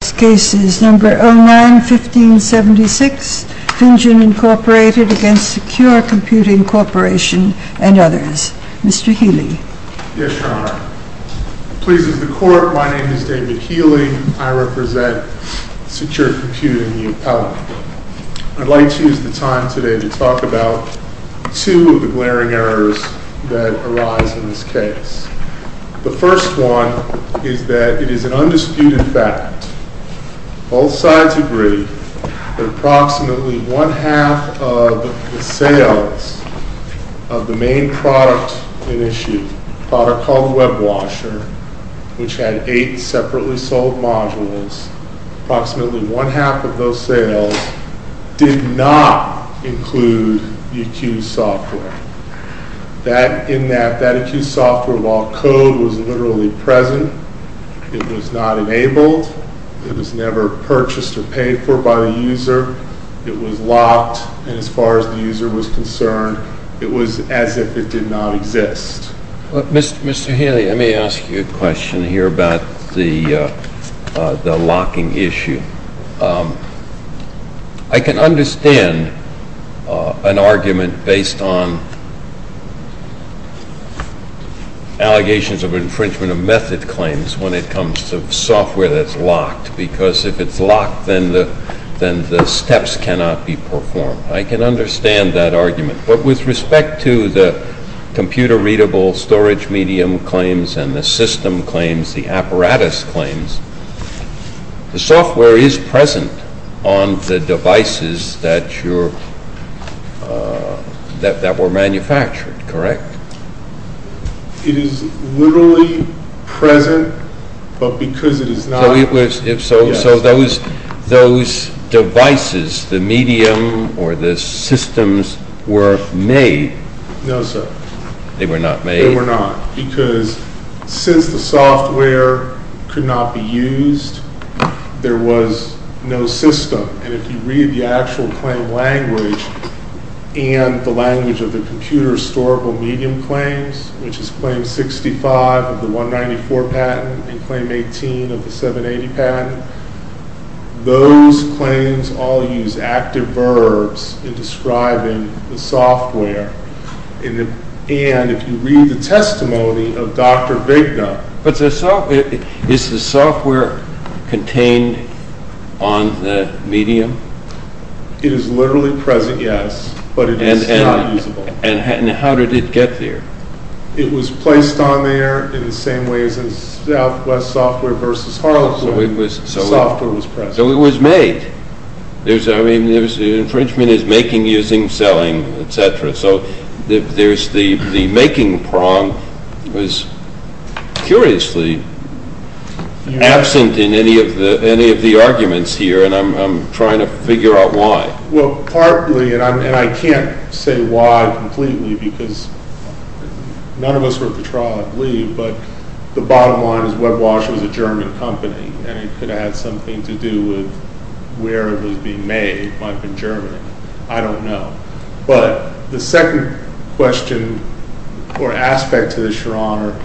This case is number 09-1576, Finjan Incorporated against Secure Computing Corporation and others. Mr. Healy. Yes, Your Honor. Please, as the court, my name is David Healy. I represent Secure Computing, the appellate. I'd like to use the time today to talk about two of the glaring errors that arise in this case. The first one is that it is an undisputed fact. Both sides agree that approximately one-half of the sales of the main product at issue, a product called WebWasher, which had eight separately sold modules, approximately one-half of those sales did not include the accused software. In that, that accused software, while code was literally present, it was not enabled, it was never purchased or paid for by the user, it was locked, and as far as the user was concerned, it was as if it did not exist. Mr. Healy, let me ask you a question here about the locking issue. I can understand an argument based on allegations of infringement of method claims when it comes to software that's locked, because if it's locked, then the steps cannot be performed. I can understand that argument. But with respect to the computer-readable storage medium claims and the system claims, the apparatus claims, the software is present on the devices that were manufactured, correct? It is literally present, but because it is not. So those devices, the medium or the systems, were made? No, sir. They were not made? They were not, because since the software could not be used, there was no system. And if you read the actual claim language and the language of the computer-storable medium claims, which is claim 65 of the 194 patent and claim 18 of the 780 patent, those claims all use active verbs in describing the software. And if you read the testimony of Dr. Vigna... But is the software contained on the medium? It is literally present, yes, but it is not usable. And how did it get there? It was placed on there in the same way as Southwest Software versus Harlequin. So it was... The software was present. So it was made. I mean, infringement is making, using, selling, etc. So the making prong was curiously absent in any of the arguments here, and I'm trying to figure out why. Well, partly, and I can't say why completely because none of us were at the trial, I believe, but the bottom line is WebWash was a German company, and it could have had something to do with where it was being made. It might have been Germany. I don't know. But the second question or aspect to this, Your Honor,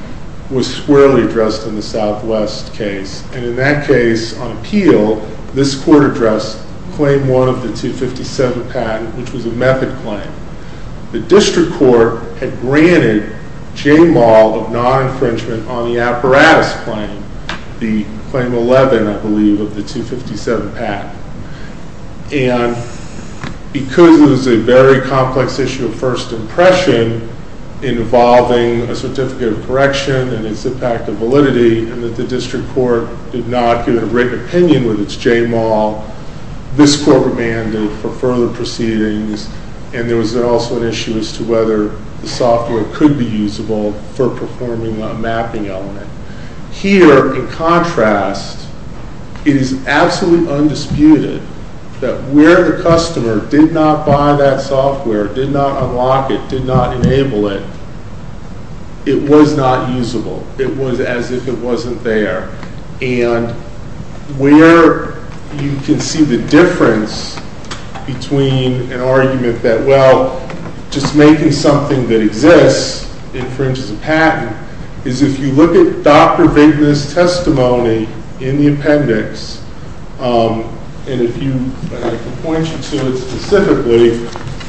was squarely addressed in the Southwest case. And in that case, on appeal, this court addressed claim 1 of the 257 patent, which was a method claim. The district court had granted J-MAL of non-infringement on the apparatus claim, the claim 11, I believe, of the 257 patent. And because it was a very complex issue of first impression involving a certificate of correction and its impact of validity and that the district court did not give a written opinion with its J-MAL, this court remanded for further proceedings, and there was also an issue as to whether the software could be usable for performing a mapping element. Here, in contrast, it is absolutely undisputed that where the customer did not buy that software, did not unlock it, did not enable it, it was not usable. It was as if it wasn't there. And where you can see the difference between an argument that, well, just making something that exists infringes a patent, is if you look at Dr. Vigna's testimony in the appendix, and I can point you to it specifically,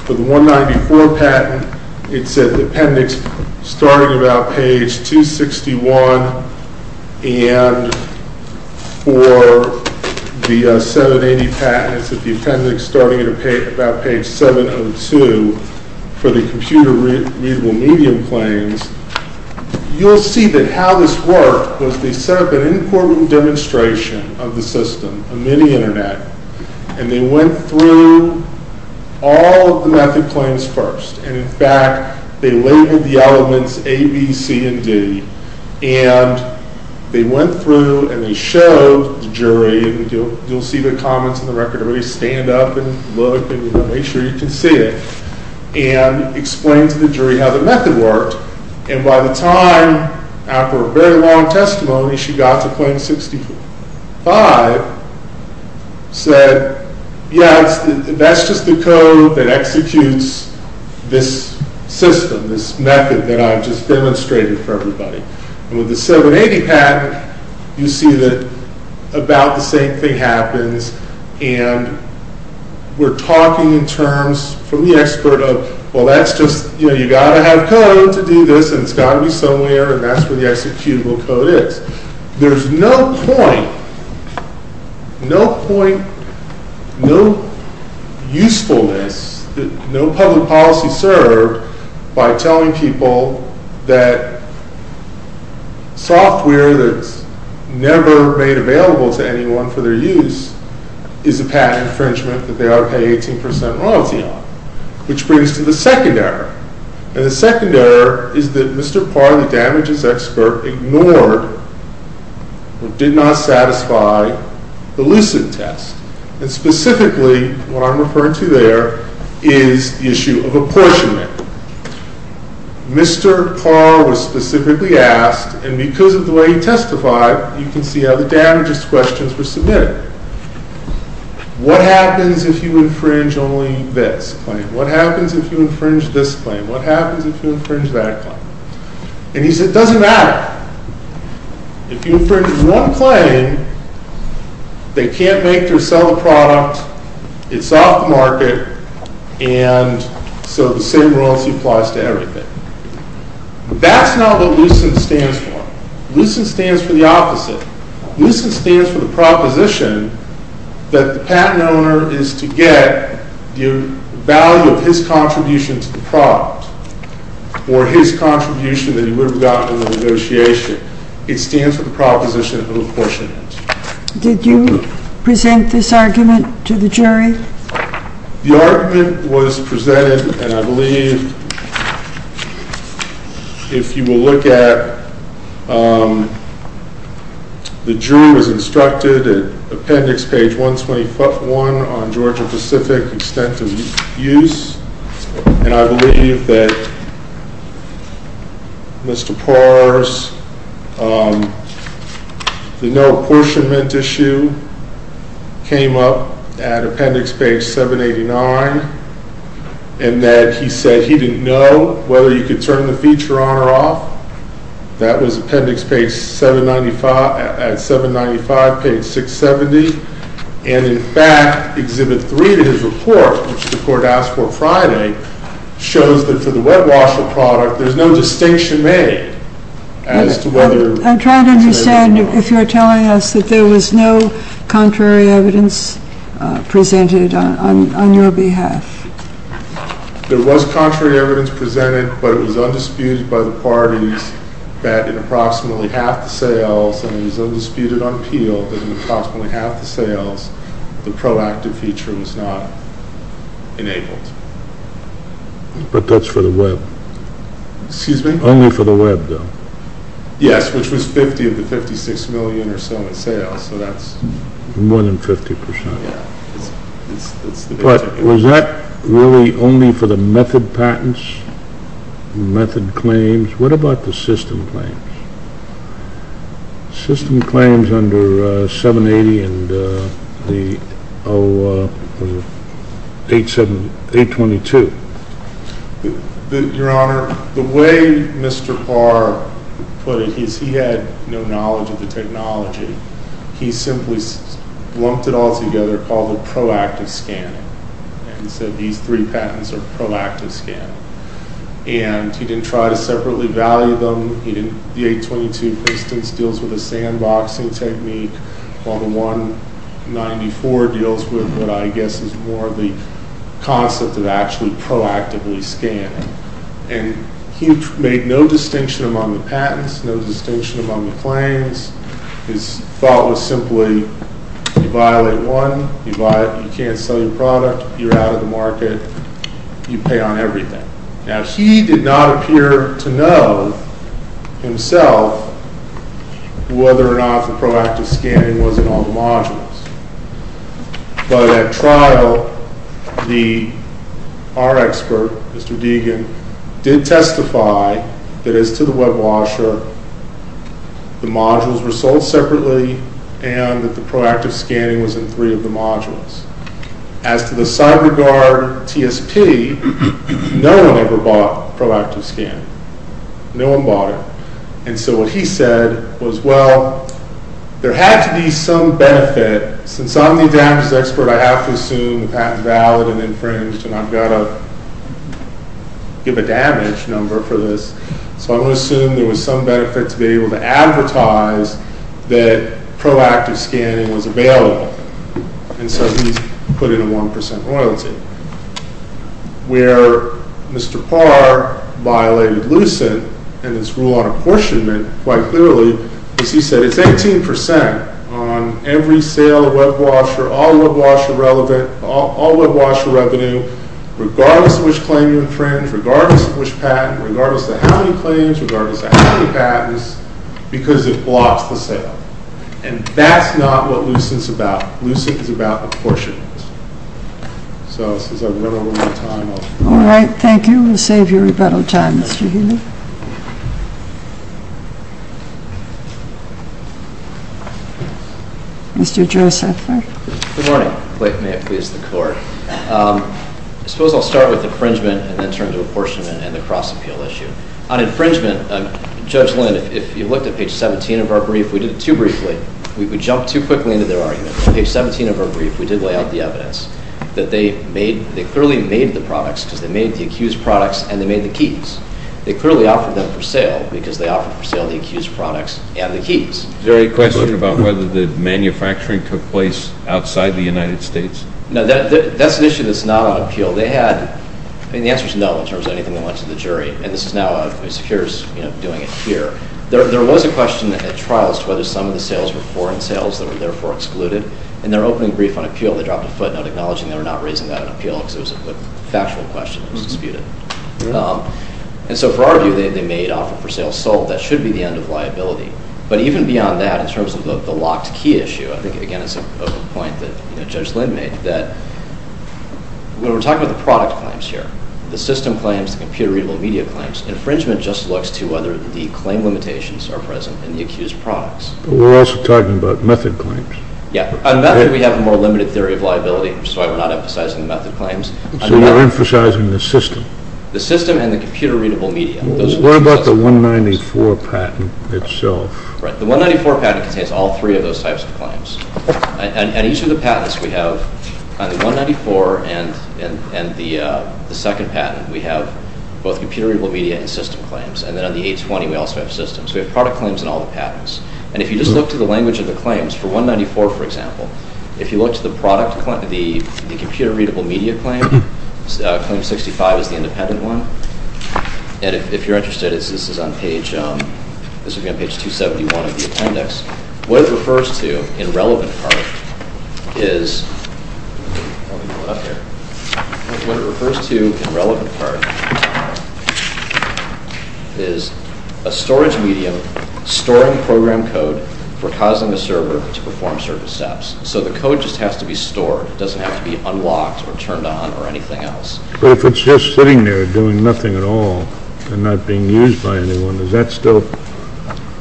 for the 194 patent, it said the appendix starting about page 261, and for the 780 patent, it said the appendix starting about page 702, for the computer-readable medium claims, you'll see that how this worked was they set up an important demonstration of the system, a mini-internet, and they went through all of the method claims first, and in fact, they labeled the elements A, B, C, and D, and they went through and they showed the jury, and you'll see the comments in the record, everybody stand up and look and make sure you can see it, and explained to the jury how the method worked, and by the time, after a very long testimony, she got to claim 65, said, yeah, that's just the code that executes this system, this method that I've just demonstrated for everybody, and with the 780 patent, you see that about the same thing happens, and we're talking in terms from the expert of, well, that's just, you know, you got to have code to do this, and it's got to be somewhere, and that's where the executable code is. There's no point, no point, no usefulness, no public policy served by telling people that software that's never made available to anyone for their use is a patent infringement that they ought to pay 18% royalty on, which brings us to the second error, and the second error is that Mr. Parr, the damages expert, ignored or did not satisfy the Lucid test, and specifically what I'm referring to there is the issue of apportionment. Mr. Parr was specifically asked, and because of the way he testified, you can see how the damages questions were submitted. What happens if you infringe only this claim? What happens if you infringe this claim? What happens if you infringe that claim? And he said, it doesn't matter. If you infringe one claim, they can't make or sell the product, it's off the market, and so the same royalty applies to everything. That's not what LUCID stands for. LUCID stands for the opposite. LUCID stands for the proposition that the patent owner is to get the value of his contribution to the product or his contribution that he would have gotten in the negotiation. It stands for the proposition of apportionment. Did you present this argument to the jury? The argument was presented, and I believe, if you will look at, the jury was instructed at appendix page 121 on Georgia Pacific extent of use, and I believe that Mr. Parr's no apportionment issue came up at appendix page 789, and that he said he didn't know whether you could turn the feature on or off. That was appendix page 795 at 795 page 670, and in fact, exhibit three of his report, which the court asked for Friday, shows that for the wet-washer product, there's no distinction made as to whether... I'm trying to understand if you're telling us that there was no contrary evidence presented on your behalf. There was contrary evidence presented, but it was undisputed by the parties that in approximately half the sales, and it was undisputed on Peel, that in approximately half the sales, the proactive feature was not enabled. But that's for the web. Excuse me? Only for the web, though. Yes, which was 50 of the 56 million or so in sales, so that's... More than 50%. But was that really only for the method patents, method claims? What about the system claims? System claims under 780 and the 822. Your Honor, the way Mr. Barr put it is he had no knowledge of the technology. He simply lumped it all together, called it proactive scanning, and said these three patents are proactive scanning. And he didn't try to separately value them. The 822, for instance, deals with a sandboxing technique, while the 194 deals with what I guess is more the concept of actually proactively scanning. And he made no distinction among the patents, no distinction among the claims. His thought was simply you violate one, you can't sell your product, you're out of the market, you pay on everything. Now, he did not appear to know himself whether or not the proactive scanning was in all the modules. But at trial, our expert, Mr. Deegan, did testify that as to the web washer, the modules were sold separately and that the proactive scanning was in three of the modules. As to the CyberGuard TSP, no one ever bought proactive scanning. No one bought it. And so what he said was, well, there had to be some benefit. Since I'm the damages expert, I have to assume the patent is valid and infringed, and I've got to give a damage number for this. So I'm going to assume there was some benefit to be able to advertise that proactive scanning was available. And so he put in a 1% royalty. Where Mr. Parr violated Lucent and its rule on apportionment quite clearly, is he said it's 18% on every sale of web washer, all web washer revenue, regardless of which claim you infringe, regardless of which patent, regardless of how many claims, regardless of how many patents, because it blocks the sale. And that's not what Lucent's about. Lucent is about apportionment. So since I don't have a lot of time, I'll... All right, thank you. We'll save you rebuttal time, Mr. Healy. Mr. Joseph. Good morning. May it please the Court. I suppose I'll start with infringement and then turn to apportionment and the cross-appeal issue. On infringement, Judge Lind, if you looked at page 17 of our brief, we did it too briefly. We jumped too quickly into their argument. On page 17 of our brief, we did lay out the evidence that they clearly made the products because they made the accused products and they made the keys. They clearly offered them for sale because they offered for sale the accused products and the keys. Is there any question about whether the manufacturing took place outside the United States? No, that's an issue that's not on appeal. They had... I mean, the answer's no in terms of anything that went to the jury. And this is now a... Secure's doing it here. There was a question at trial as to whether some of the sales were foreign sales that were therefore excluded. In their opening brief on appeal, they dropped a footnote acknowledging they were not raising that on appeal because it was a factual question that was disputed. And so for our view, they made offer for sale sold. That should be the end of liability. But even beyond that, in terms of the locked key issue, I think, again, it's a point that Judge Lind made, that when we're talking about the product claims here, the system claims, the computer-readable media claims, infringement just looks to whether the claim limitations are present in the accused products. But we're also talking about method claims. Yeah. On method, we have a more limited theory of liability, which is why we're not emphasizing the method claims. So you're emphasizing the system. The system and the computer-readable media. What about the 194 patent itself? Right. The 194 patent contains all three of those types of claims. And each of the patents we have, on the 194 and the second patent, we have both computer-readable media and system claims. And then on the 820, we also have systems. We have product claims in all the patents. And if you just look to the language of the claims, for 194, for example, if you look to the product claim, the computer-readable media claim, claim 65 is the independent one. And if you're interested, this is on page 271 of the appendix. What it refers to in relevant part is a storage medium storing program code for causing a server to perform certain steps. So the code just has to be stored. It doesn't have to be unlocked or turned on or anything else. But if it's just sitting there doing nothing at all and not being used by anyone, is that still?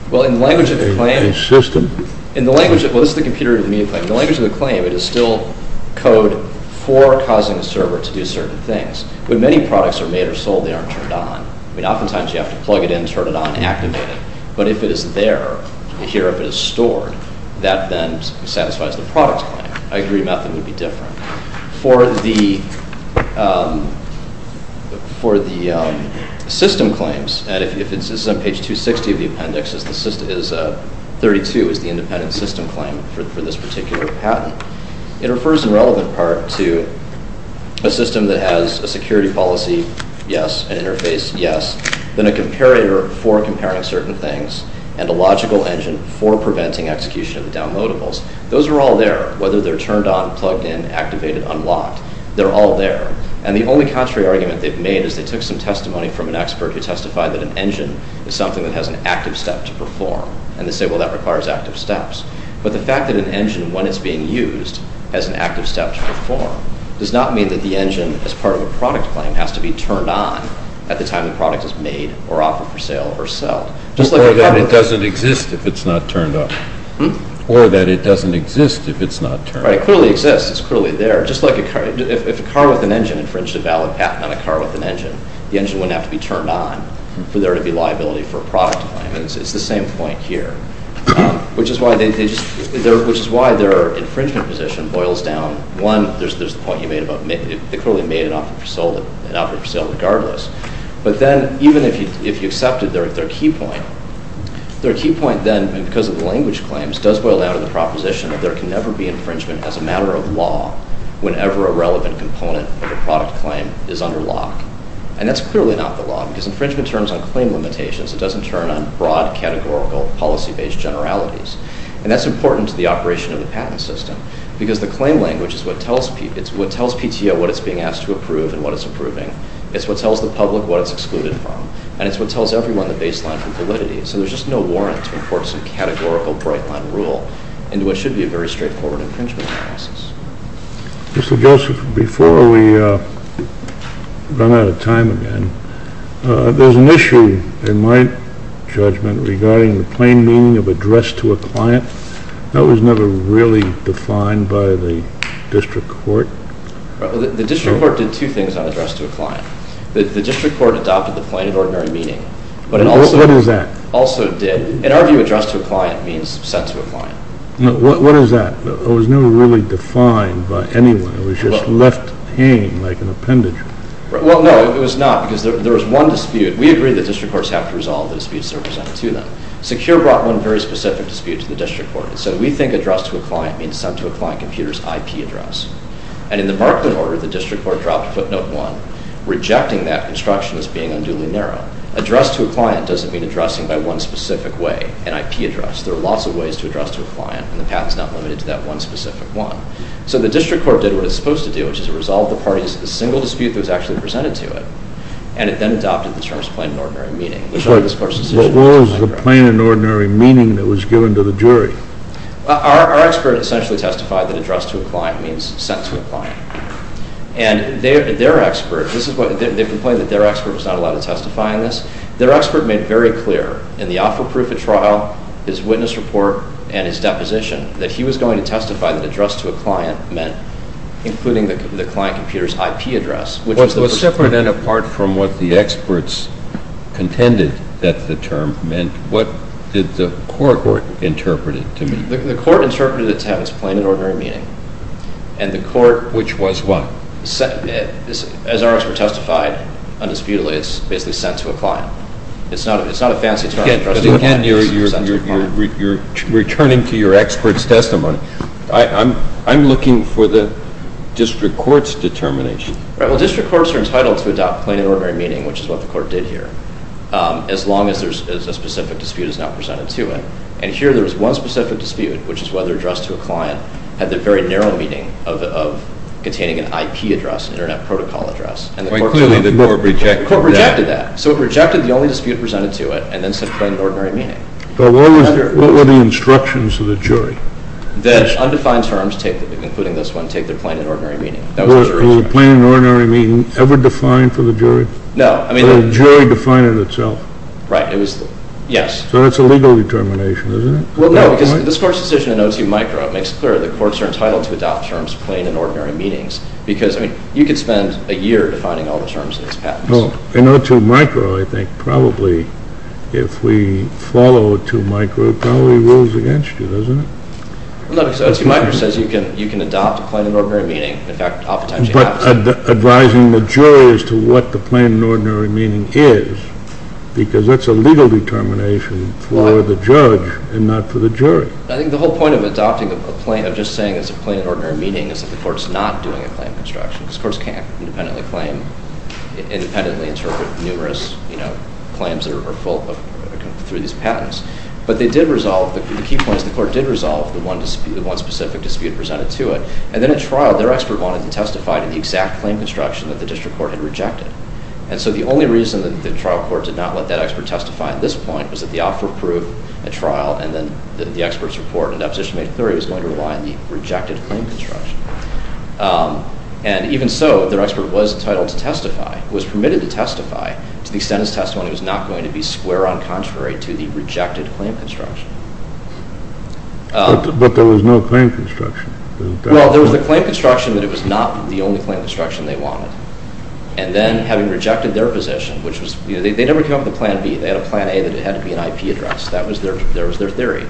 Well, in the language of the claim... In the system. Well, this is the computer-readable media claim. In the language of the claim, it is still code for causing a server to do certain things. When many products are made or sold, they aren't turned on. I mean, oftentimes you have to plug it in, turn it on, and activate it. But if it is there, here, if it is stored, that then satisfies the product claim. I agree method would be different. For the system claims, and this is on page 260 of the appendix, 32 is the independent system claim for this particular patent. It refers in relevant part to a system that has a security policy, yes, an interface, yes, then a comparator for comparing certain things, and a logical engine for preventing execution of the downloadables. Those are all there, whether they're turned on, plugged in, activated, unlocked. They're all there. And the only contrary argument they've made is they took some testimony from an expert who testified that an engine is something that has an active step to perform. And they say, well, that requires active steps. But the fact that an engine, when it's being used, has an active step to perform does not mean that the engine, as part of a product claim, has to be turned on at the time the product is made or offered for sale or sold. Or that it doesn't exist if it's not turned on. Or that it doesn't exist if it's not turned on. Right. It clearly exists. It's clearly there. Just like if a car with an engine infringed a valid patent on a car with an engine, the engine wouldn't have to be turned on for there to be liability for a product claim. It's the same point here. Which is why their infringement position boils down. One, there's the point you made about they clearly made an offer for sale regardless. But then even if you accepted their key point, their key point then, because of the language claims, does boil down to the proposition that there can never be infringement as a matter of law whenever a relevant component of a product claim is under lock. And that's clearly not the law. Because infringement turns on claim limitations. It doesn't turn on broad, categorical, policy-based generalities. And that's important to the operation of the patent system. Because the claim language is what tells PTO what it's being asked to approve and what it's approving. It's what tells the public what it's excluded from. And it's what tells everyone the baseline for validity. So there's just no warrant to import some categorical bright-line rule into what should be a very straightforward infringement process. Mr. Joseph, before we run out of time again, there's an issue in my judgment regarding the plain meaning of address to a client. That was never really defined by the district court. The district court did two things on address to a client. The district court adopted the plain and ordinary meaning. What is that? Also did. In our view, address to a client means sent to a client. What is that? It was never really defined by anyone. It was just left hanging like an appendage. Well, no, it was not. Because there was one dispute. We agree that district courts have to resolve the disputes that are presented to them. Secure brought one very specific dispute to the district court. It said, we think address to a client means sent to a client computer's IP address. And in the Barclay order, the district court dropped footnote one, rejecting that construction as being unduly narrow. Address to a client doesn't mean addressing by one specific way, an IP address. There are lots of ways to address to a client, and the path is not limited to that one specific one. So the district court did what it's supposed to do, which is resolve the parties to the single dispute that was actually presented to it. And it then adopted the terms plain and ordinary meaning. What was the plain and ordinary meaning that was given to the jury? Our expert essentially testified that address to a client means sent to a client. And their expert, they complained that their expert was not allowed to testify on this. Their expert made very clear in the offer proof of trial, his witness report, and his deposition that he was going to testify that address to a client meant including the client computer's IP address. Well, separate and apart from what the experts contended that the term meant, what did the court interpret it to mean? The court interpreted it to have its plain and ordinary meaning. And the court... Which was what? As our expert testified, undisputedly, it's basically sent to a client. It's not a fancy term. Again, you're returning to your expert's testimony. I'm looking for the district court's determination. Well, district courts are entitled to adopt plain and ordinary meaning, which is what the court did here, as long as a specific dispute is not presented to it. And here there was one specific dispute, which is whether address to a client had the very narrow meaning of containing an IP address, an internet protocol address. Clearly the court rejected that. The court rejected that. So it rejected the only dispute presented to it and then said plain and ordinary meaning. But what were the instructions of the jury? That undefined terms, including this one, take the plain and ordinary meaning. Was the plain and ordinary meaning ever defined for the jury? No. The jury defined it itself. Right. Yes. So that's a legal determination, isn't it? Well, no, because this court's decision in O2 micro makes clear the courts are entitled to adopt terms plain and ordinary meanings because, I mean, you could spend a year defining all the terms in this patent. Well, in O2 micro, I think probably if we follow O2 micro, it probably rules against you, doesn't it? No, because O2 micro says you can adopt plain and ordinary meaning. In fact, I'll potentially have to. Advising the jury as to what the plain and ordinary meaning is because that's a legal determination for the judge and not for the jury. I think the whole point of adopting a plain, of just saying it's a plain and ordinary meaning is that the court's not doing a claim construction because courts can't independently claim, independently interpret numerous claims that are full through these patents. But they did resolve, the key point is the court did resolve the one specific dispute presented to it. And then at trial, their expert wanted to testify to the exact claim construction that the district court had rejected. And so the only reason that the trial court did not let that expert testify at this point was that the offer of proof at trial and then the expert's report and deposition made clear he was going to rely on the rejected claim construction. And even so, their expert was entitled to testify, was permitted to testify to the extent his testimony was not going to be square on contrary to the rejected claim construction. But there was no claim construction. Well, there was a claim construction that it was not the only claim construction they wanted. And then having rejected their position, which was, you know, they never came up with a plan B. They had a plan A that it had to be an IP address. That was their theory.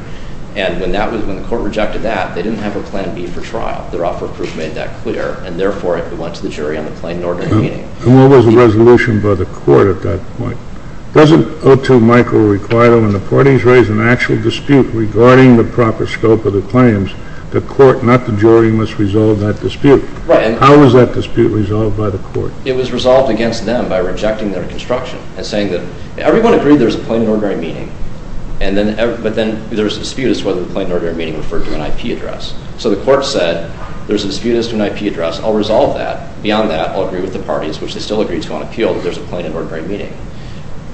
And when the court rejected that, they didn't have a plan B for trial. Their offer of proof made that clear. And therefore, it went to the jury on the plain and ordinary meaning. And what was the resolution by the court at that point? Doesn't O2 micro require that when the parties raise an actual dispute regarding the proper scope of the claims, the court, not the jury, must resolve that dispute? Right. How was that dispute resolved by the court? It was resolved against them by rejecting their construction and saying that everyone agreed there was a plain and ordinary meaning, but then there was a dispute as to whether the plain and ordinary meaning referred to an IP address. So the court said there's a dispute as to an IP address. I'll resolve that. There's a plain and ordinary meaning.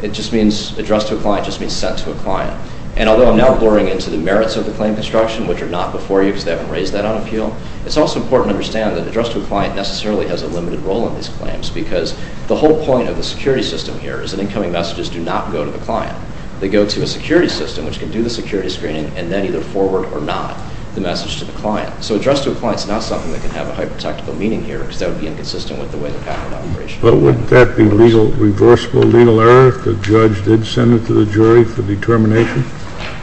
It just means addressed to a client just means sent to a client. And although I'm now boring into the merits of the claim construction, which are not before you because they haven't raised that on appeal, it's also important to understand that addressed to a client necessarily has a limited role in these claims because the whole point of the security system here is that incoming messages do not go to the client. They go to a security system, which can do the security screening, and then either forward or not the message to the client. So addressed to a client is not something that can have a hyper-technical meaning here because that would be inconsistent with the way the pattern would operate. But wouldn't that be reversible legal error if the judge did send it to the jury for determination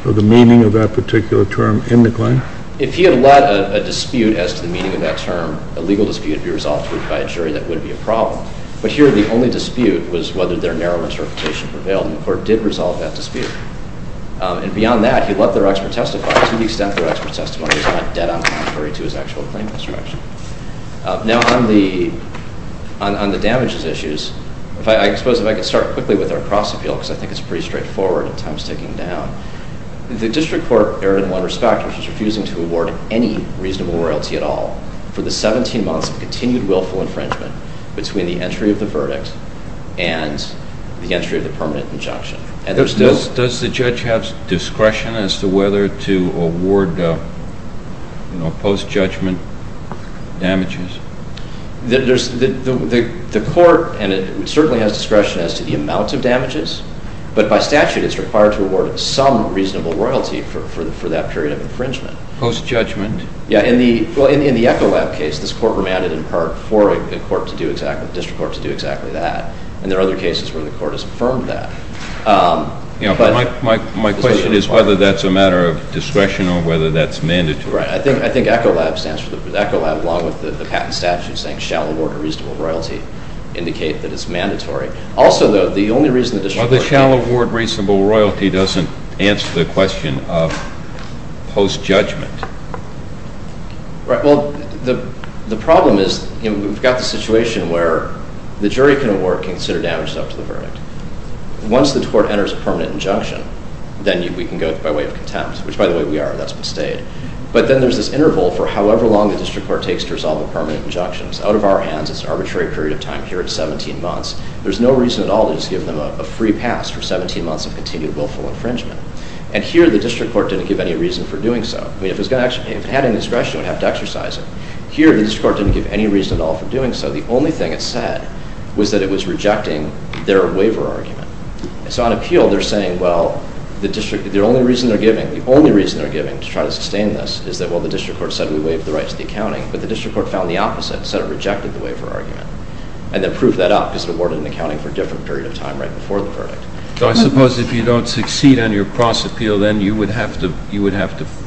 of the meaning of that particular term in the claim? If he had let a dispute as to the meaning of that term, a legal dispute, be resolved by a jury, that would be a problem. But here the only dispute was whether their narrow interpretation prevailed, and the court did resolve that dispute. And beyond that, he let their expert testify to the extent that their expert testimony is not dead on contrary to his actual claim construction. Now on the damages issues, I suppose if I could start quickly with our cross-appeal because I think it's pretty straightforward and time's ticking down. The district court, in one respect, was just refusing to award any reasonable royalty at all for the 17 months of continued willful infringement between the entry of the verdict and the entry of the permanent injunction. Does the judge have discretion as to whether to award post-judgment damages? The court certainly has discretion as to the amount of damages, but by statute it's required to award some reasonable royalty for that period of infringement. Post-judgment? Yeah, well, in the ECHOLAB case, this court remanded in part for the district court to do exactly that. And there are other cases where the court has affirmed that. Yeah, but my question is whether that's a matter of discretion or whether that's mandatory. Right. I think ECHOLAB, along with the patent statute saying shall award a reasonable royalty, indicate that it's mandatory. The shall award reasonable royalty doesn't answer the question of post-judgment. Right, well, the problem is we've got the situation where the jury can award considered damages up to the verdict. Once the court enters a permanent injunction, then we can go by way of contempt, which, by the way, we are. That's bestayed. But then there's this interval for however long the district court takes to resolve a permanent injunction. It's out of our hands. It's an arbitrary period of time. Here, it's 17 months. There's no reason at all to just give them a free pass for 17 months of continued willful infringement. And here, the district court didn't give any reason for doing so. I mean, if it had any discretion, it would have to exercise it. Here, the district court didn't give any reason at all for doing so. The only thing it said was that it was rejecting their waiver argument. So on appeal, they're saying, well, the only reason they're giving to try to sustain this is that, well, the district court said we waive the right to the accounting. But the district court found the opposite. It said it rejected the waiver argument. And then proved that up because it awarded an accounting for a different period of time right before the verdict. So I suppose if you don't succeed on your cross-appeal, then you would have to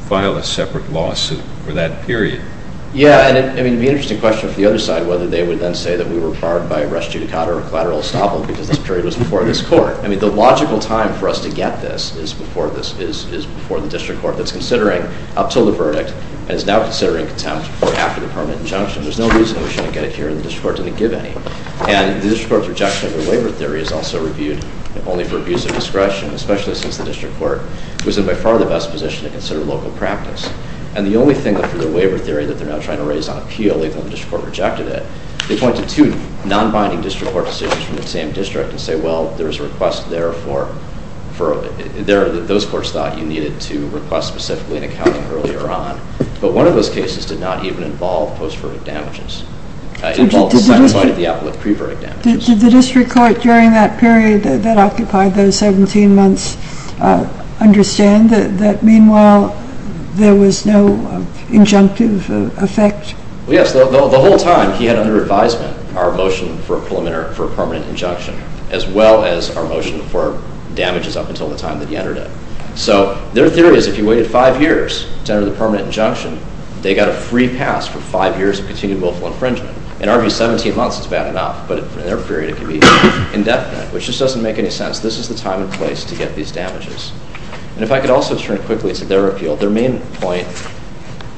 file a separate lawsuit for that period. Yeah, and it would be an interesting question for the other side whether they would then say that we were required by res judicata or collateral estoppel because this period was before this court. I mean, the logical time for us to get this is before the district court that's considering up until the verdict and is now considering contempt for after the permanent injunction. There's no reason we shouldn't get it here, and the district court didn't give any. And the district court's rejection of their waiver theory is also reviewed only for abuse of discretion, especially since the district court was in by far the best position to consider local practice. And the only thing for their waiver theory that they're now trying to raise on appeal, even though the district court rejected it, they point to two non-binding district court decisions from the same district and say, well, there's a request there that those courts thought you needed to request specifically an accounting earlier on. But one of those cases did not even involve post-verdict damages. It involved the signified of the appellate pre-verdict damages. Did the district court during that period that occupied those 17 months understand that, meanwhile, there was no injunctive effect? Well, yes. The whole time, he had under advisement our motion for a permanent injunction as well as our motion for damages up until the time that he entered it. So their theory is if you waited five years to enter the permanent injunction, they got a free pass for five years of continued willful infringement. In our view, 17 months is bad enough, but in their period, it could be indefinite, which just doesn't make any sense. This is the time and place to get these damages. And if I could also turn quickly to their appeal, their main point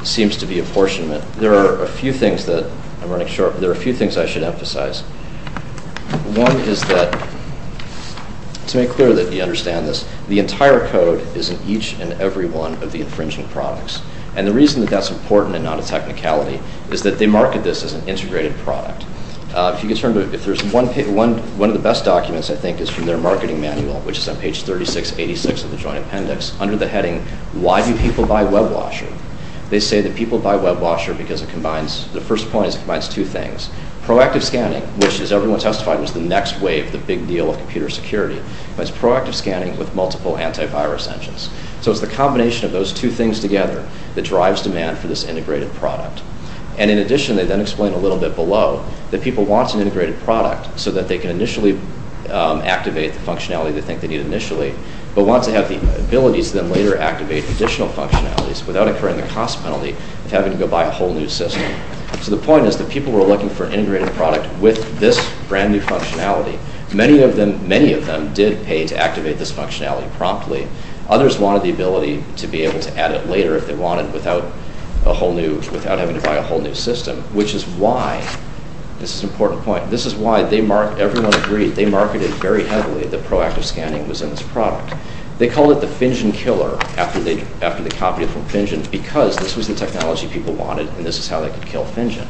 seems to be apportionment. There are a few things that I'm running short. There are a few things I should emphasize. One is that to make clear that you understand this, the entire code is in each and every one of the infringing products. And the reason that that's important and not a technicality is that they market this as an integrated product. If you could turn to it, if there's one of the best documents, I think, is from their marketing manual, which is on page 3686 of the joint appendix. Under the heading, why do people buy WebWasher? They say that people buy WebWasher because it combines, the first point is it combines two things. Proactive scanning, which as everyone testified was the next wave of the big deal of computer security, but it's proactive scanning with multiple antivirus engines. So it's the combination of those two things together that drives demand for this integrated product. And in addition, they then explain a little bit below that people want an integrated product so that they can initially activate the functionality they think they need initially, but want to have the ability to then later activate additional functionalities without incurring the cost penalty of having to go buy a whole new system. So the point is that people were looking for an integrated product with this brand new functionality. Many of them did pay to activate this functionality promptly. Others wanted the ability to be able to add it later if they wanted without having to buy a whole new system, which is why, this is an important point, this is why everyone agreed, they marketed very heavily that proactive scanning was in this product. They called it the Fingen killer after they copied it from Fingen because this was the technology people wanted and this is how they could kill Fingen.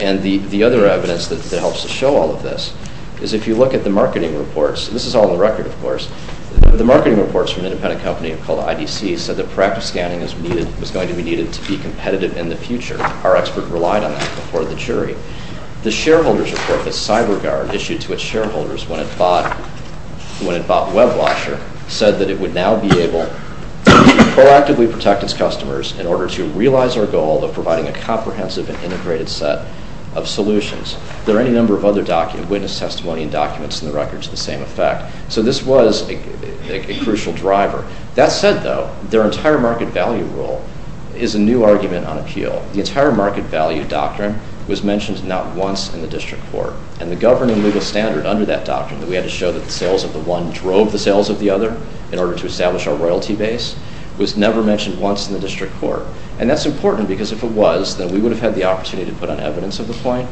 And the other evidence that helps to show all of this is if you look at the marketing reports, this is all on the record of course, the marketing reports from an independent company called IDC said that proactive scanning was going to be needed to be competitive in the future. Our expert relied on that before the jury. The shareholders report that CyberGuard issued to its shareholders when it bought WebWasher said that it would now be able to proactively protect its customers in order to realize our goal of providing a comprehensive and integrated set of solutions. There are any number of other witness testimony and documents in the record to the same effect. So this was a crucial driver. That said though, their entire market value rule is a new argument on appeal. The entire market value doctrine was mentioned not once in the district court. And the governing legal standard under that doctrine that we had to show that the sales of the one drove the sales of the other in order to establish our royalty base was never mentioned once in the district court. And that's important because if it was, then we would have had the opportunity to put on evidence of the point.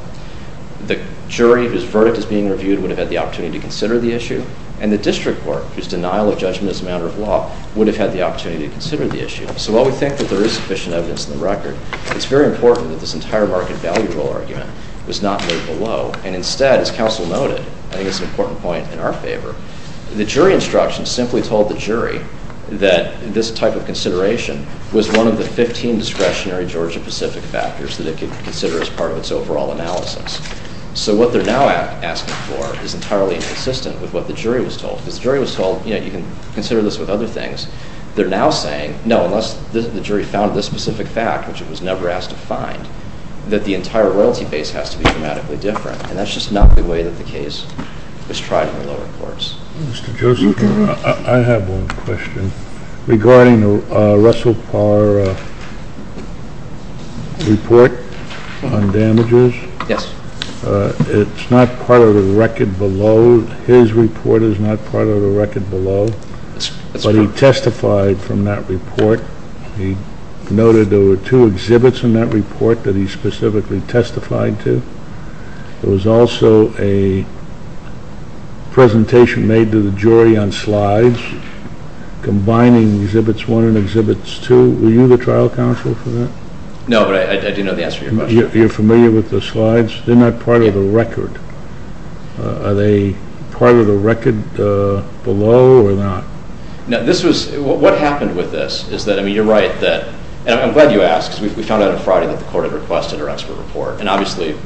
The jury whose verdict is being reviewed would have had the opportunity to consider the issue. And the district court whose denial of judgment is a matter of law would have had the opportunity to consider the issue. So while we think that there is sufficient evidence in the record, it's very important that this entire market value rule argument was not laid below. And instead, as counsel noted, I think it's an important point in our favor, the jury instruction simply told the jury that this type of consideration was one of the 15 discretionary Georgia-Pacific factors that it could consider as part of its overall analysis. So what they're now asking for is entirely inconsistent with what the jury was told. Because the jury was told, you know, you can consider this with other things. They're now saying, no, unless the jury found this specific fact, which it was never asked to find, that the entire royalty base has to be dramatically different. And that's just not the way that the case was tried in the lower courts. Mr. Joseph, I have one question regarding the Russell Parr report on damages. Yes. It's not part of the record below. His report is not part of the record below. But he testified from that report. He noted there were two exhibits in that report that he specifically testified to. There was also a presentation made to the jury on slides combining Exhibits 1 and Exhibits 2. Were you the trial counsel for that? No, but I do know the answer to your question. You're familiar with the slides? They're not part of the record. Are they part of the record below or not? No, this was, what happened with this is that, I mean, you're right that, and I'm glad you asked because we found out on Friday that the court had requested our expert report. And, obviously,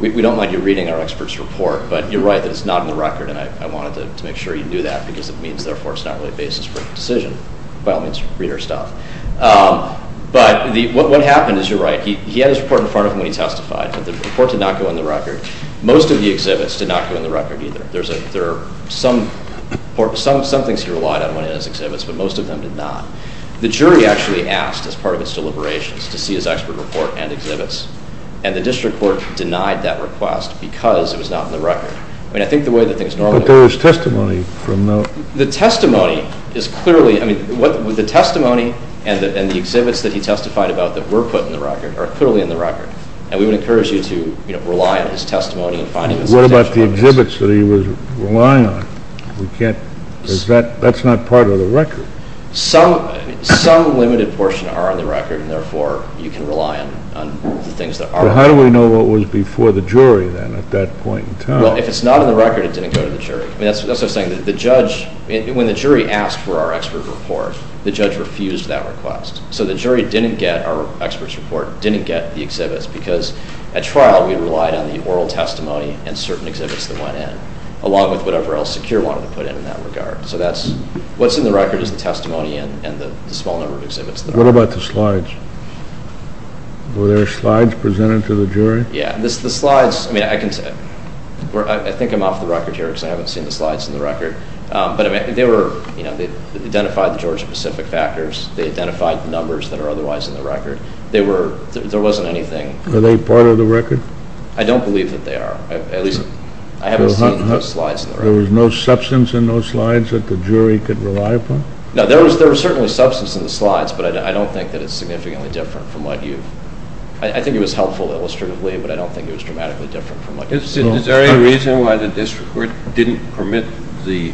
we don't mind you reading our expert's report. But you're right that it's not in the record, and I wanted to make sure you knew that because it means therefore it's not really a basis for a decision. By all means, read our stuff. But what happened is, you're right, he had his report in front of him when he testified, but the report did not go on the record. Most of the exhibits did not go on the record either. There are some things he relied on when he had his exhibits, but most of them did not. The jury actually asked, as part of its deliberations, to see his expert report and exhibits. And the district court denied that request because it was not in the record. I mean, I think the way that things normally work. But there is testimony from the... The testimony is clearly, I mean, the testimony and the exhibits that he testified about that were put in the record are clearly in the record. And we would encourage you to, you know, rely on his testimony and find him a sufficient basis. What about the exhibits that he was relying on? We can't, that's not part of the record. Some limited portions are on the record, and therefore you can rely on the things that are on the record. But how do we know what was before the jury then at that point in time? Well, if it's not on the record, it didn't go to the jury. I mean, that's what I'm saying. The judge, when the jury asked for our expert report, the judge refused that request. So the jury didn't get our expert's report, didn't get the exhibits, because at trial we relied on the oral testimony and certain exhibits that went in, along with whatever else Secure wanted to put in in that regard. So that's, what's in the record is the testimony and the small number of exhibits. What about the slides? Were there slides presented to the jury? Yeah, the slides, I mean, I think I'm off the record here because I haven't seen the slides in the record. But they were, you know, they identified the Georgia-Pacific factors. They identified the numbers that are otherwise in the record. They were, there wasn't anything. Are they part of the record? I don't believe that they are. At least, I haven't seen those slides in the record. So there was no substance in those slides that the jury could rely upon? No, there was certainly substance in the slides, but I don't think that it's significantly different from what you've, I think it was helpful illustratively, but I don't think it was dramatically different from what you've seen. Is there any reason why the district court didn't permit the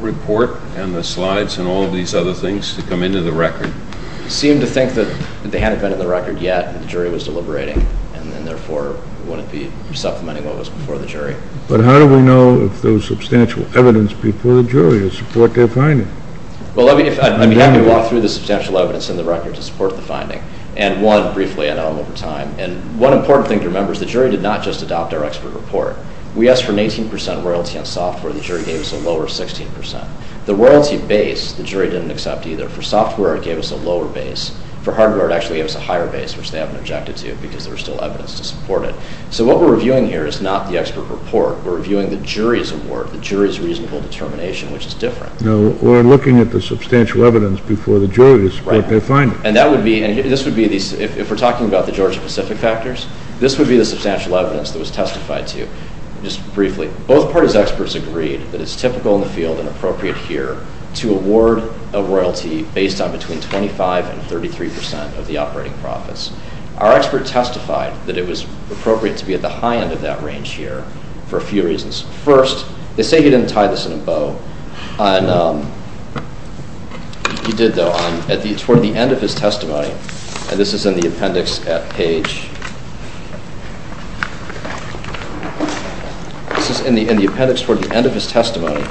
report and the slides and all of these other things to come into the record? They seemed to think that they hadn't been in the record yet and the jury was deliberating, and therefore wouldn't be supplementing what was before the jury. But how do we know if there was substantial evidence before the jury to support their finding? Well, let me walk through the substantial evidence in the record to support the finding. And one, briefly, I know I'm over time, and one important thing to remember is the jury did not just adopt our expert report. We asked for an 18% royalty on software. The jury gave us a lower 16%. The royalty base, the jury didn't accept either. For software, it gave us a lower base. For hardware, it actually gave us a higher base, which they haven't objected to because there was still evidence to support it. So what we're reviewing here is not the expert report. We're reviewing the jury's award, the jury's reasonable determination, which is different. Or looking at the substantial evidence before the jury to support their finding. And that would be, and this would be, if we're talking about the Georgia-Pacific factors, this would be the substantial evidence that was testified to, just briefly. Both parties' experts agreed that it's typical in the field and appropriate here to award a royalty based on between 25% and 33% of the operating profits. Our expert testified that it was appropriate to be at the high end of that range here for a few reasons. First, they say he didn't tie this in a bow. He did, though. Toward the end of his testimony, and this is in the appendix at page... This is in the appendix toward the end of his testimony.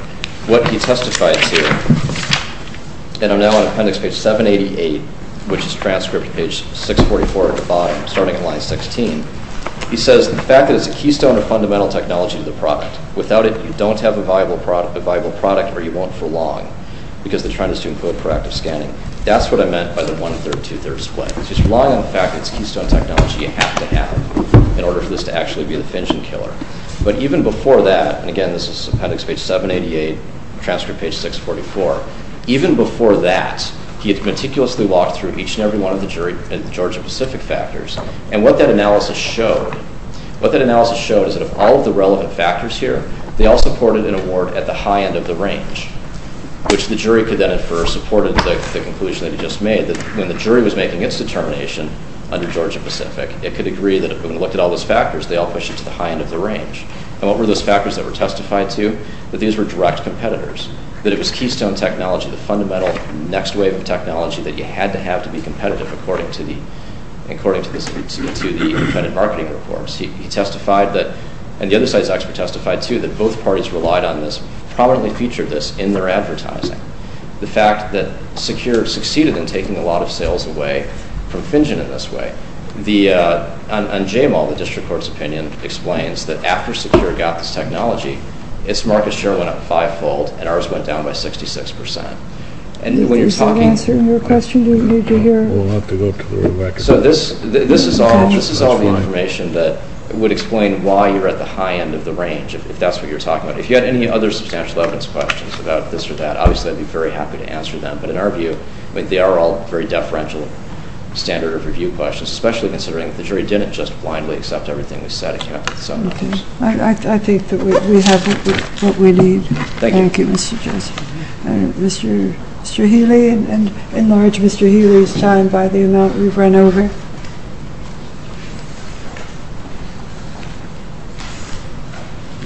What he testified to, and I'm now on appendix page 788, which is transcript page 644 at the bottom, starting at line 16. He says the fact that it's a keystone of fundamental technology to the product. Without it, you don't have a viable product or you won't for long because the trend is to include proactive scanning. That's what I meant by the one-third, two-thirds split. He's relying on the fact that it's a keystone technology you have to have in order for this to actually be the finishing killer. But even before that, and again, this is appendix page 788, transcript page 644. Even before that, he had meticulously walked through each and every one of the jury and the Georgia-Pacific factors, and what that analysis showed, what that analysis showed is that of all of the relevant factors here, they all supported an award at the high end of the range, which the jury could then infer supported the conclusion that he just made that when the jury was making its determination under Georgia-Pacific, it could agree that when we looked at all those factors, they all pushed it to the high end of the range. And what were those factors that were testified to? That these were direct competitors, that it was keystone technology, the fundamental next wave of technology that you had to have to be competitive according to the embedded marketing reforms. He testified that, and the other side's expert testified too, that both parties relied on this, prominently featured this in their advertising. The fact that Secure succeeded in taking a lot of sales away from FinGen in this way. On JML, the district court's opinion explains that after Secure got this technology, its market share went up five-fold and ours went down by 66%. And when you're talking... Is that answering your question? We'll have to go to the record. So this is all the information that would explain why you're at the high end of the range, if that's what you're talking about. If you had any other substantial evidence questions about this or that, obviously I'd be very happy to answer them, but in our view, they are all very deferential standard of review questions, especially considering that the jury didn't just blindly accept everything we said. I think that we have what we need. Thank you, Mr. Joseph. Mr. Healy, and in large Mr. Healy's time by the amount we've run over,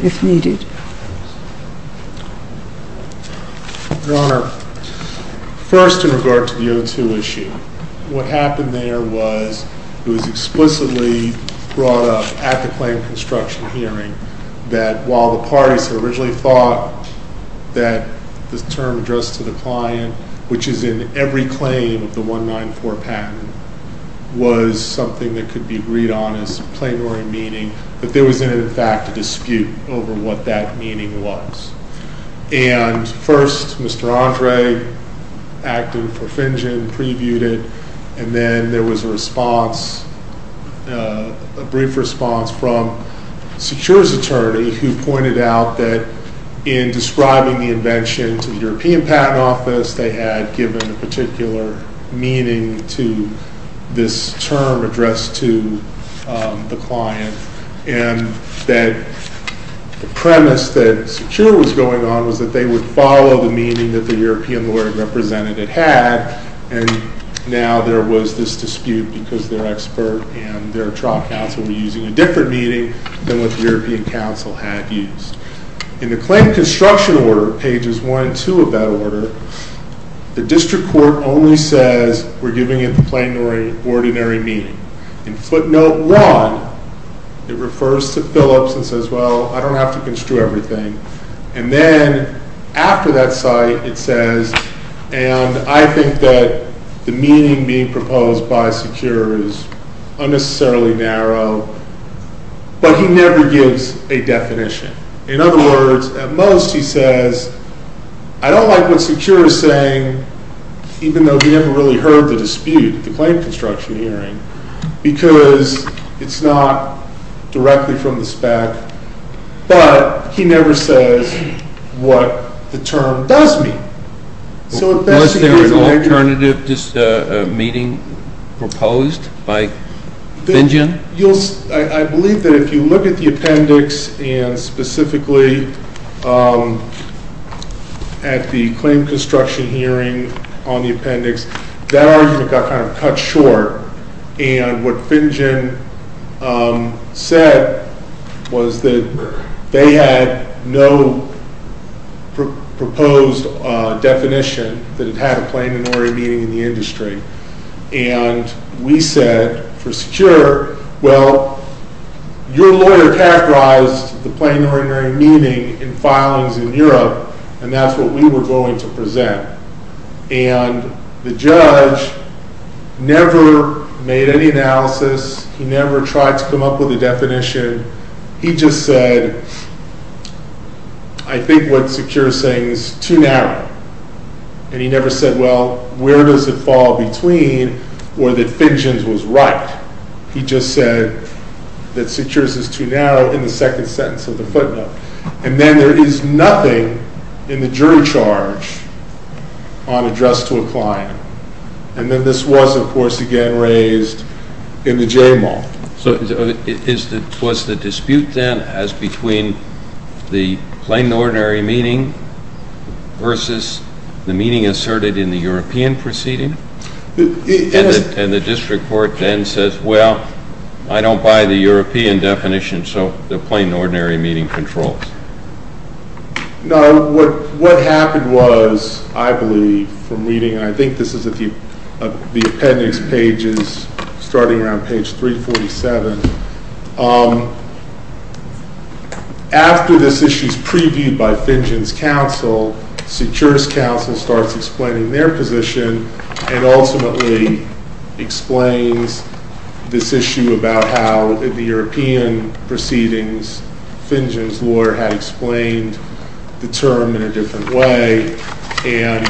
if needed. Your Honor, first in regard to the O2 issue, what happened there was it was explicitly brought up at the claim construction hearing that while the parties had originally thought that this term addressed to the client, which is in every claim of the 194 patent, was something that could be agreed on as plain or in meaning, that there was in fact a dispute over what that meaning was. And first Mr. Andre acted for Finjan, previewed it, and then there was a response, a brief response from Secure's attorney, who pointed out that in describing the invention to the European Patent Office, they had given a particular meaning to this term addressed to the client, and that the premise that Secure was going on was that they would follow the meaning that the European lawyer representative had, and now there was this dispute because their expert and their trial counsel were using a different meaning than what the European counsel had used. In the claim construction order, pages one and two of that order, the district court only says we're giving it the plain or ordinary meaning. In footnote one, it refers to Phillips and says, well, I don't have to construe everything. And then after that site it says, and I think that the meaning being proposed by Secure is unnecessarily narrow, but he never gives a definition. In other words, at most he says, I don't like what Secure is saying, even though he never really heard the dispute, the claim construction hearing, because it's not directly from the spec, but he never says what the term does mean. Was there an alternative meeting proposed by Finjen? I believe that if you look at the appendix and specifically at the claim construction hearing on the appendix, that argument got kind of cut short, and what Finjen said was that they had no proposed definition that it had a plain or ordinary meaning in the industry. And we said for Secure, well, your lawyer characterized the plain or ordinary meaning in filings in Europe, and the judge never made any analysis. He never tried to come up with a definition. He just said, I think what Secure is saying is too narrow. And he never said, well, where does it fall between or that Finjen's was right. He just said that Secure's is too narrow in the second sentence of the footnote. And then there is nothing in the jury charge on address to a client. And then this was, of course, again raised in the J-Mall. So was the dispute then as between the plain ordinary meaning versus the meaning asserted in the European proceeding? And the district court then says, well, I don't buy the European definition, so the plain ordinary meaning controls. No, what happened was, I believe from reading, and I think this is at the appendix pages starting around page 347, after this issue is previewed by Finjen's counsel, Secure's counsel starts explaining their position and ultimately explains this issue about how the European proceedings, Finjen's lawyer had explained the term in a different way. And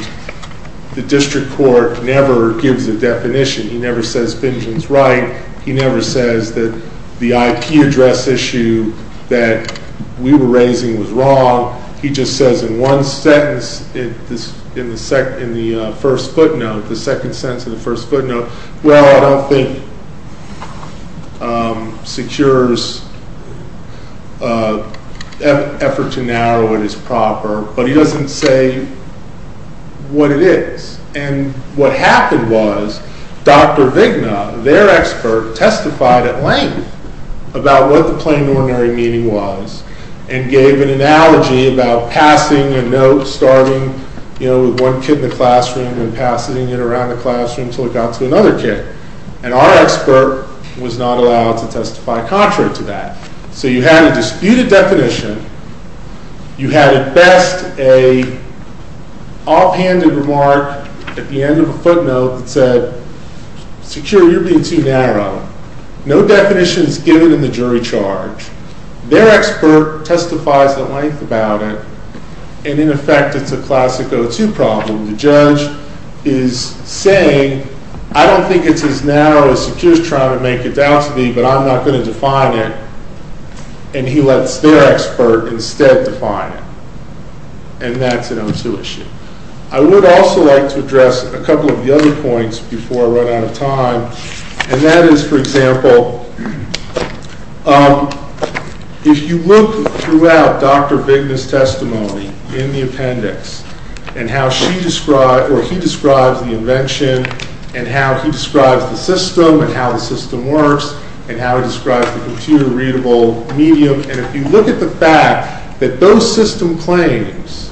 the district court never gives a definition. He never says Finjen's right. He never says that the IP address issue that we were raising was wrong. He just says in one sentence in the first footnote, the second sentence of the first footnote, well, I don't think Secure's effort to narrow it is proper. But he doesn't say what it is. And what happened was Dr. Vigna, their expert, testified at length about what the plain ordinary meaning was and gave an analogy about passing a note starting with one kid in the classroom and passing it around the classroom until it got to another kid. And our expert was not allowed to testify contrary to that. So you had a disputed definition. You had at best an offhanded remark at the end of a footnote that said, Secure, you're being too narrow. No definition is given in the jury charge. Their expert testifies at length about it. And, in effect, it's a classic O2 problem. The judge is saying, I don't think it's as narrow as Secure's trying to make it down to me, but I'm not going to define it. And he lets their expert instead define it. And that's an O2 issue. I would also like to address a couple of the other points before I run out of time. And that is, for example, if you look throughout Dr. Vigna's testimony in the appendix and how he describes the invention and how he describes the system and how the system works and how he describes the computer-readable medium, and if you look at the fact that those system claims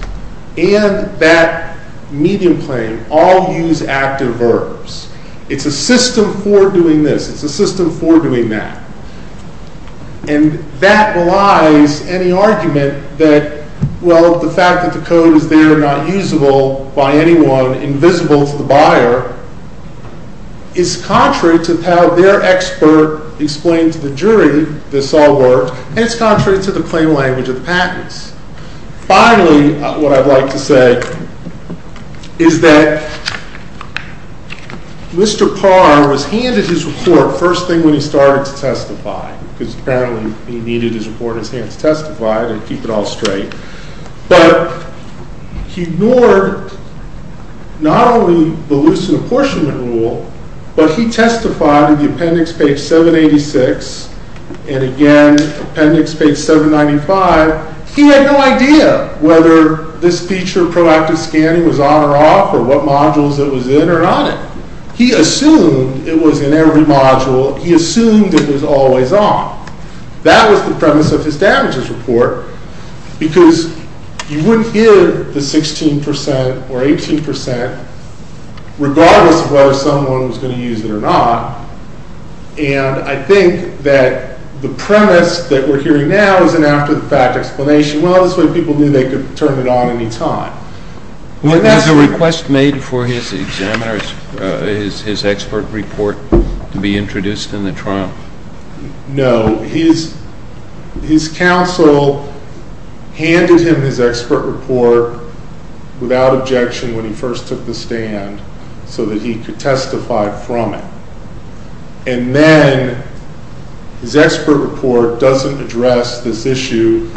and that medium claim all use active verbs, it's a system for doing this. It's a system for doing that. And that belies any argument that, well, the fact that the code is there, not usable by anyone, invisible to the buyer, is contrary to how their expert explains to the jury this all works, and it's contrary to the claim language of the patents. Finally, what I'd like to say is that Mr. Parr was handed his report first thing when he started to testify because apparently he needed his report in his hands to testify to keep it all straight. But he ignored not only the Lucent apportionment rule, but he testified in the appendix, page 786, and again appendix, page 795. He had no idea whether this feature of proactive scanning was on or off or what modules it was in or not in. He assumed it was in every module. He assumed it was always on. That was the premise of his damages report because you wouldn't hear the 16% or 18% regardless of whether someone was going to use it or not, and I think that the premise that we're hearing now is an after-the-fact explanation. Well, this way people knew they could turn it on any time. Was there a request made for his examiner, his expert report, to be introduced in the trial? No. His counsel handed him his expert report without objection when he first took the stand so that he could testify from it. And then his expert report doesn't address this issue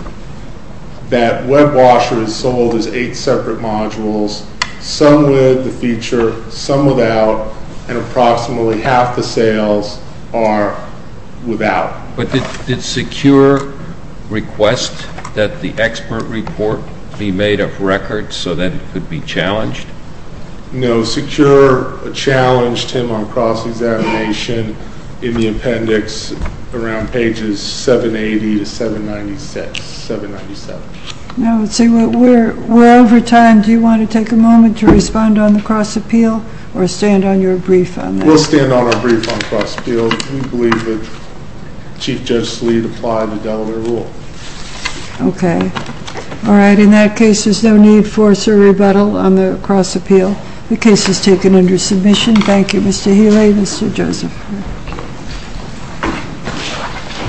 that WebWasher is sold as eight separate modules, some with the feature, some without, and approximately half the sales are without. But did Secure request that the expert report be made up record so that it could be challenged? No. Secure challenged him on cross-examination in the appendix around pages 780 to 797. Now, let's see, we're over time. Do you want to take a moment to respond on the cross-appeal or stand on your brief on that? We'll stand on our brief on cross-appeal. We believe that Chief Judge Sleede applied the Delaware rule. Okay. All right. In that case, there's no need for a rebuttal on the cross-appeal. The case is taken under submission. Thank you, Mr. Healy and Mr. Joseph.